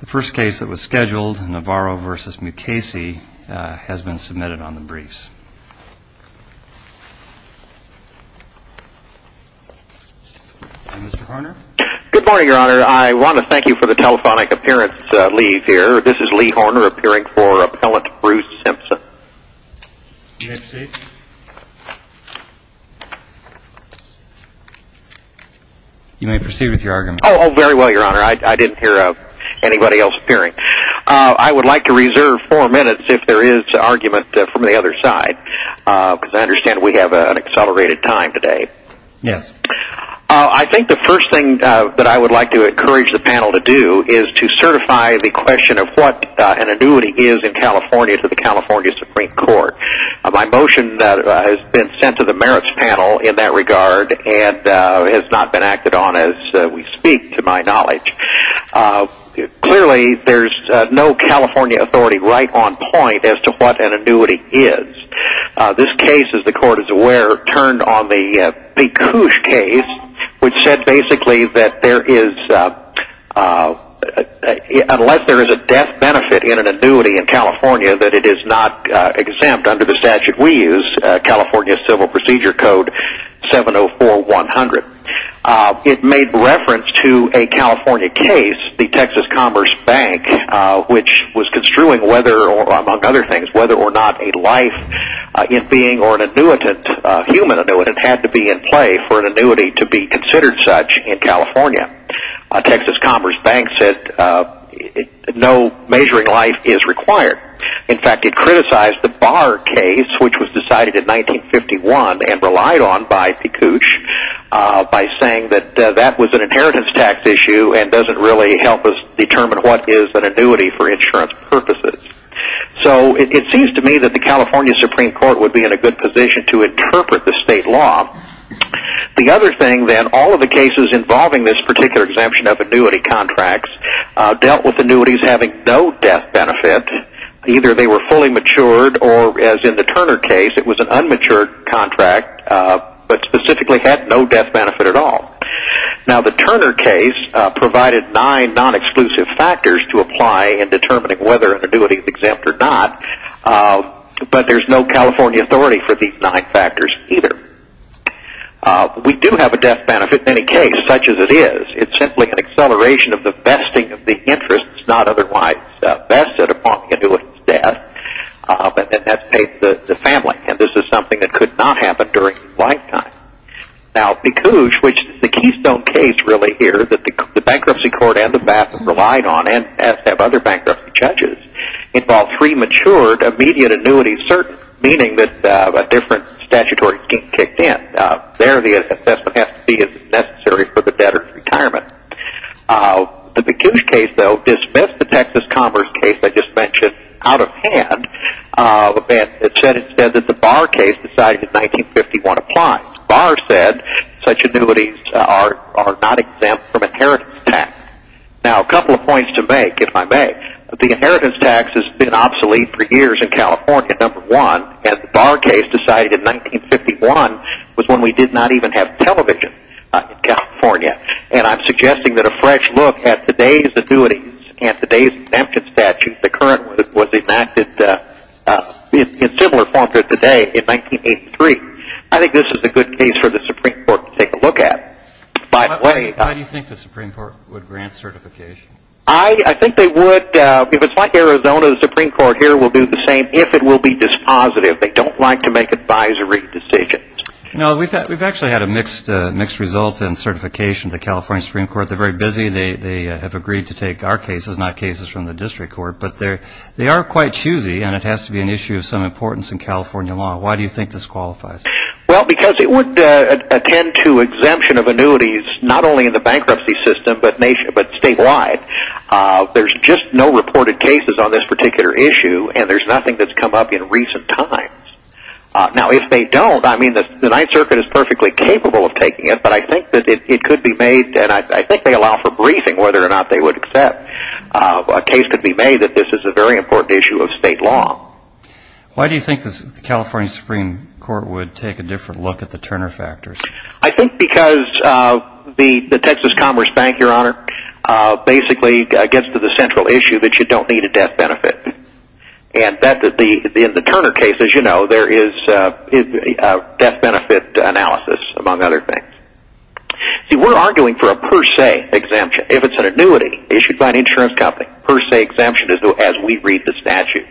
The first case that was scheduled, Navarro v. Mukasey, has been submitted on the briefs. Mr. Horner? Good morning, Your Honor. I want to thank you for the telephonic appearance, Lee, here. This is Lee Horner, appearing for Appellant Bruce Simpson. You may proceed. You may proceed with your argument. Oh, very well, Your Honor. I didn't hear anybody else appearing. I would like to reserve four minutes if there is argument from the other side, because I understand we have an accelerated time today. Yes. I think the first thing that I would like to encourage the panel to do is to certify the question of what an annuity is in California to the California Supreme Court. My motion has been sent to the merits panel in that regard and has not been acted on as we speak, to my knowledge. Clearly, there is no California authority right on point as to what an annuity is. This case, as the Court is aware, turned on the Pekush case, which said basically that there is, unless there is a death benefit in an annuity in California, that it is not exempt under the statute we use, California Civil Procedure Code 704-100. It made reference to a California case, the Texas Commerce Bank, which was construing whether, among other things, whether or not a life in being or an annuitant, a human annuitant, had to be in play for an annuity to be considered such in California. Texas Commerce Bank said no measuring life is required. In fact, it criticized the Barr case, which was decided in 1951 and relied on by Pekush by saying that that was an inheritance tax issue and doesn't really help us determine what is an annuity for insurance purposes. It seems to me that the California Supreme Court would be in a good position to interpret the state law. The other thing, then, all of the cases involving this particular exemption of annuity contracts dealt with annuities having no death benefit. Either they were fully matured or, as in the Turner case, it was an unmatured contract but specifically had no death benefit at all. The Turner case provided nine non-exclusive factors to apply in determining whether an annuity is exempt or not, but there's no California authority for these nine factors either. We do have a death benefit in any case, such as it is. It's simply an acceleration of the vesting of the interest, not otherwise vested upon the annuitant's death, and that's paid to the family. This is something that could not happen during his lifetime. Now, Pekush, which is the keystone case really here that the Bankruptcy Court and the BASM relied on, as have other bankruptcy judges, involved three matured immediate annuities, meaning that a different statutory scheme kicked in. There, the assessment has to be as necessary for the debtor's retirement. The Pekush case, though, dismissed the Texas Commerce case I just mentioned out of hand and said instead that the Barr case decided in 1951 applies. Barr said such annuities are not exempt from inheritance tax. Now, a couple of points to make, if I may. The inheritance tax has been obsolete for years in California, number one, and the Barr case decided in 1951 was when we did not even have television in California. And I'm suggesting that a fresh look at today's annuities and today's exemptions statute, the current one, was enacted in similar form to today in 1983. I think this is a good case for the Supreme Court to take a look at, by the way. How do you think the Supreme Court would grant certification? I think they would. If it's like Arizona, the Supreme Court here will do the same if it will be dispositive. They don't like to make advisory decisions. No, we've actually had a mixed result in certification. The California Supreme Court, they're very busy. They have agreed to take our cases, not cases from the district court. But they are quite choosy, and it has to be an issue of some importance in California law. Why do you think this qualifies? Well, because it would attend to exemption of annuities not only in the bankruptcy system but statewide. There's just no reported cases on this particular issue, and there's nothing that's come up in recent times. Now, if they don't, I mean, the Ninth Circuit is perfectly capable of taking it, but I think that it could be made, and I think they allow for briefing whether or not they would accept a case could be made that this is a very important issue of state law. Why do you think the California Supreme Court would take a different look at the Turner factors? I think because the Texas Commerce Bank, Your Honor, basically gets to the central issue that you don't need a death benefit. And in the Turner case, as you know, there is a death benefit analysis, among other things. See, we're arguing for a per se exemption. If it's an annuity issued by an insurance company, per se exemption as we read the statute.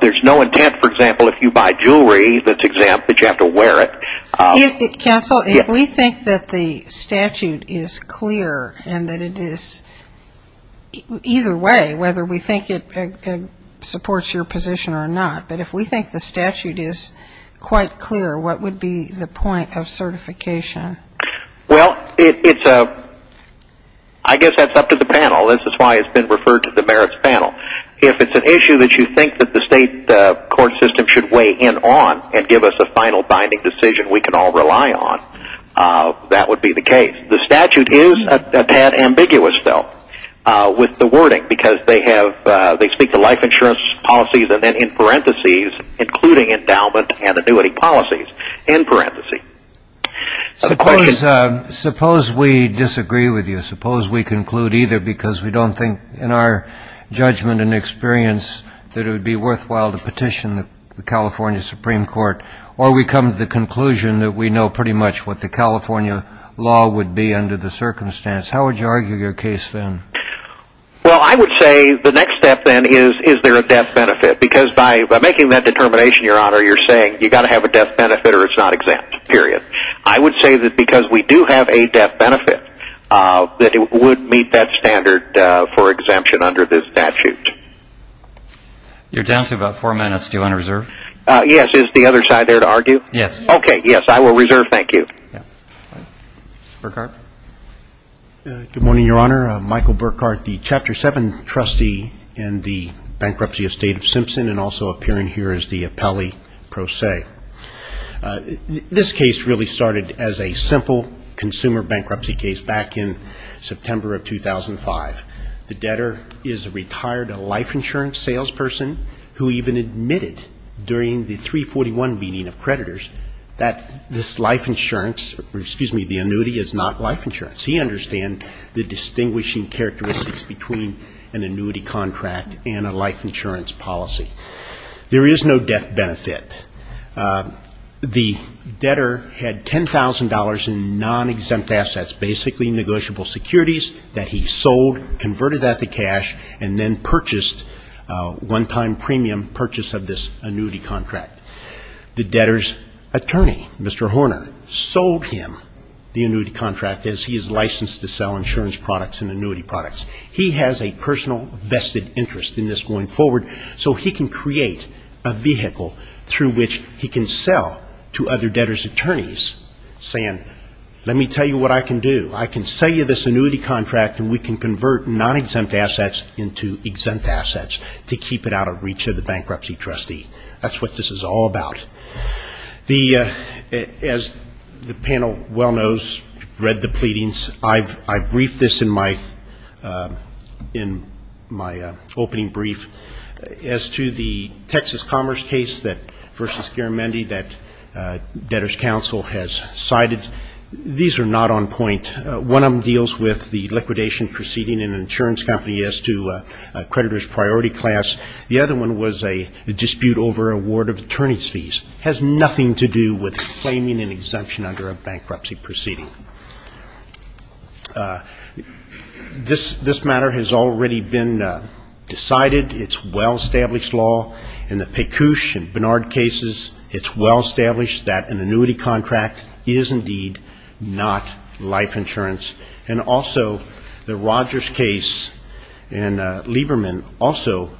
There's no intent, for example, if you buy jewelry that's exempt that you have to wear it. Counsel, if we think that the statute is clear and that it is either way, whether we think it supports your position or not, but if we think the statute is quite clear, what would be the point of certification? Well, I guess that's up to the panel. This is why it's been referred to the merits panel. If it's an issue that you think that the state court system should weigh in on and give us a final binding decision we can all rely on, that would be the case. The statute is a tad ambiguous, though, with the wording, because they speak to life insurance policies and then in parentheses, including endowment and annuity policies, in parentheses. Suppose we disagree with you. Suppose we conclude either because we don't think in our judgment and experience that it would be worthwhile to petition the California Supreme Court or we come to the conclusion that we know pretty much what the California law would be under the circumstance. How would you argue your case then? Well, I would say the next step then is, is there a death benefit? Because by making that determination, Your Honor, you're saying you've got to have a death benefit or it's not exempt, period. I would say that because we do have a death benefit, that it would meet that standard for exemption under this statute. You're down to about four minutes. Do you want to reserve? Yes. Is the other side there to argue? Yes. Okay. Yes, I will reserve. Thank you. Mr. Burkhart. Good morning, Your Honor. Michael Burkhart, the Chapter 7 trustee in the Bankruptcy Estate of Simpson and also appearing here as the appellee pro se. This case really started as a simple consumer bankruptcy case back in September of 2005. The debtor is a retired life insurance salesperson who even admitted during the 341 meeting of creditors that this life insurance excuse me, the annuity is not life insurance. He understands the distinguishing characteristics between an annuity contract and a life insurance policy. There is no death benefit. The debtor had $10,000 in non-exempt assets, basically negotiable securities that he sold, converted that to cash, and then purchased one-time premium purchase of this annuity contract. The debtor's attorney, Mr. Horner, sold him the annuity contract as he is licensed to sell insurance products and annuity products. He has a personal vested interest in this going forward, so he can create a vehicle through which he can sell to other debtor's attorneys saying, let me tell you what I can do. I can sell you this annuity contract and we can convert non-exempt assets into exempt assets to keep it out of reach of the bankruptcy trustee. That's what this is all about. As the panel well knows, read the pleadings. I briefed this in my opening brief as to the Texas Commerce case versus Garamendi that Debtor's Counsel has cited. These are not on point. One of them deals with the liquidation proceeding in an insurance company as to a creditor's priority class. The other one was a dispute over award of attorney's fees. It has nothing to do with claiming an exemption under a bankruptcy proceeding. This matter has already been decided. It's well-established law. In the Pekush and Bernard cases, it's well-established that an annuity contract is indeed not life insurance. And also the Rogers case and Lieberman also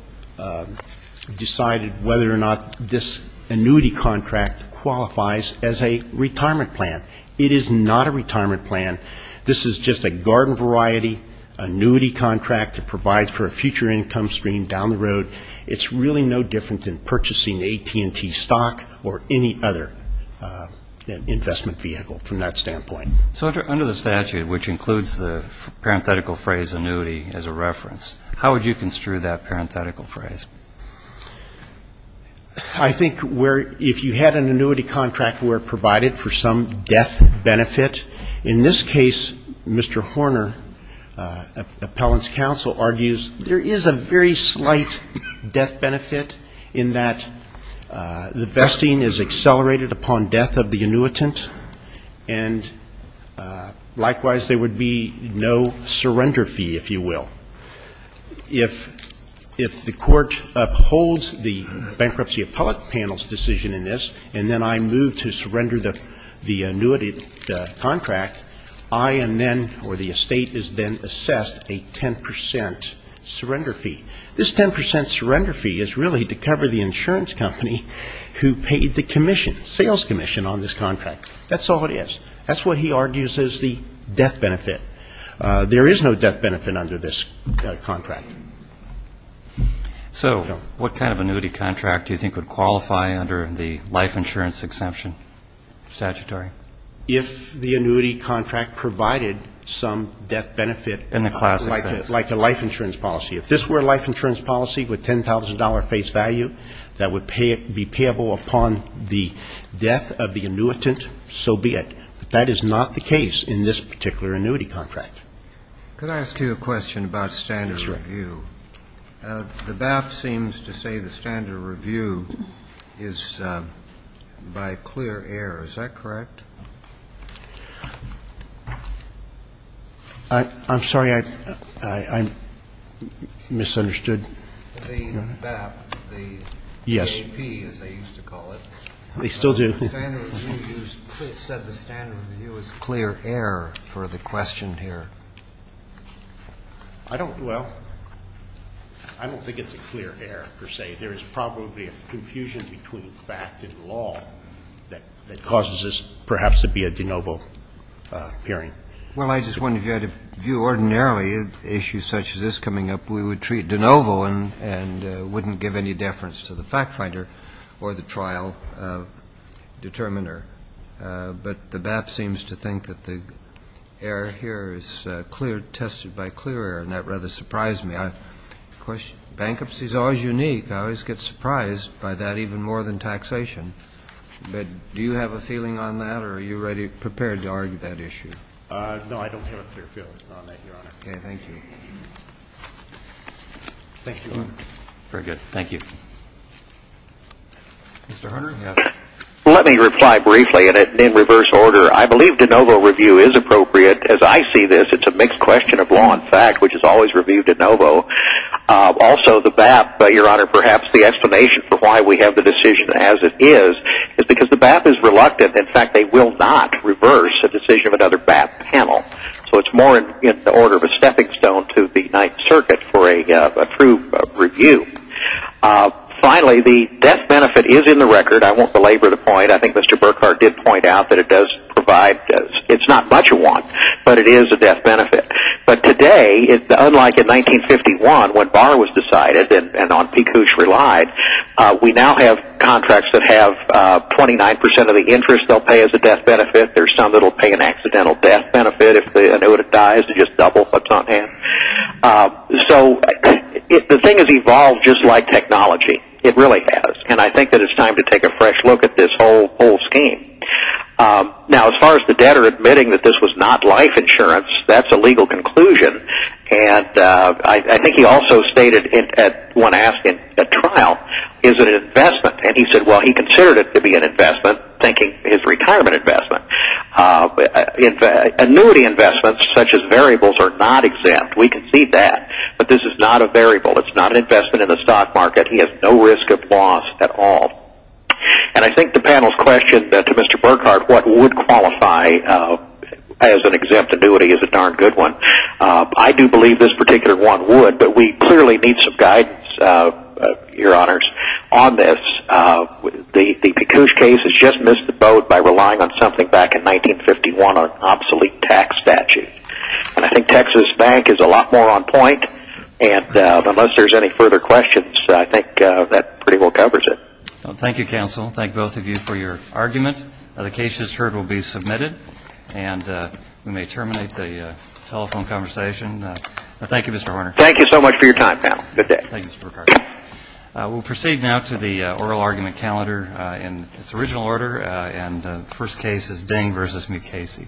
decided whether or not this annuity contract qualifies as a retirement plan. It is not a retirement plan. This is just a garden variety annuity contract to provide for a future income stream down the road. It's really no different than purchasing AT&T stock or any other investment vehicle from that standpoint. So under the statute, which includes the parenthetical phrase annuity as a reference, how would you construe that parenthetical phrase? I think where if you had an annuity contract where it provided for some death benefit, in this case, Mr. Horner, appellant's counsel, argues there is a very slight death benefit in that the vesting is accelerated upon death of the annuitant, and likewise there would be no surrender fee, if you will. If the court upholds the bankruptcy appellate panel's decision in this and then I move to surrender the annuity contract, I am then or the estate is then assessed a 10% surrender fee. This 10% surrender fee is really to cover the insurance company who paid the commission, sales commission, on this contract. That's all it is. That's what he argues is the death benefit. There is no death benefit under this contract. So what kind of annuity contract do you think would qualify under the life insurance exemption statutory? If the annuity contract provided some death benefit. In the classic sense. Like a life insurance policy. If this were a life insurance policy with $10,000 face value that would be payable upon the death of the annuitant, so be it. But that is not the case in this particular annuity contract. Could I ask you a question about standard review? The BAP seems to say the standard review is by clear air. Is that correct? I'm sorry. I misunderstood. The BAP, the AAP as they used to call it. They still do. The standard review said the standard review is clear air for the question here. I don't, well, I don't think it's a clear air per se. There is probably a confusion between fact and law that causes this perhaps to be a de novo hearing. Well, I just wondered if you had a view ordinarily of issues such as this coming up, and wouldn't give any deference to the fact finder or the trial determiner. But the BAP seems to think that the air here is clear, tested by clear air, and that rather surprised me. Of course, bankruptcy is always unique. I always get surprised by that even more than taxation. But do you have a feeling on that or are you ready, prepared to argue that issue? No, I don't have a clear feeling on that, Your Honor. Okay. Thank you. Thank you. Very good. Thank you. Mr. Hunter? Let me reply briefly, and in reverse order. I believe de novo review is appropriate. As I see this, it's a mixed question of law and fact, which is always review de novo. Also, the BAP, Your Honor, perhaps the explanation for why we have the decision as it is, is because the BAP is reluctant. In fact, they will not reverse a decision of another BAP panel. So it's more in the order of a stepping stone to the Ninth Circuit for a true review. Finally, the death benefit is in the record. I won't belabor the point. I think Mr. Burkhardt did point out that it does provide – it's not much of one, but it is a death benefit. But today, unlike in 1951, when Barr was decided and En-Picouche relied, we now have contracts that have 29% of the interest they'll pay as a death benefit. There's some that will pay an accidental death benefit. If the annuitant dies, they just double what's on hand. So the thing has evolved just like technology. It really has. And I think that it's time to take a fresh look at this whole scheme. Now, as far as the debtor admitting that this was not life insurance, that's a legal conclusion. And I think he also stated, when asked at trial, is it an investment? And he said, well, he considered it to be an investment, thinking it's a retirement investment. Annuity investments, such as variables, are not exempt. We can see that. But this is not a variable. It's not an investment in the stock market. He has no risk of loss at all. And I think the panel's question to Mr. Burkhardt, what would qualify as an exempt annuity, is a darn good one. I do believe this particular one would. But we clearly need some guidance, Your Honors, on this. The Pekush case has just missed the boat by relying on something back in 1951, an obsolete tax statute. And I think Texas Bank is a lot more on point. And unless there's any further questions, I think that pretty well covers it. Thank you, counsel. Thank both of you for your argument. The case, as heard, will be submitted. And we may terminate the telephone conversation. Thank you, Mr. Horner. Thank you so much for your time, panel. Good day. Thank you, Mr. Burkhardt. We'll proceed now to the oral argument calendar in its original order. And the first case is Ding v. Mukasey.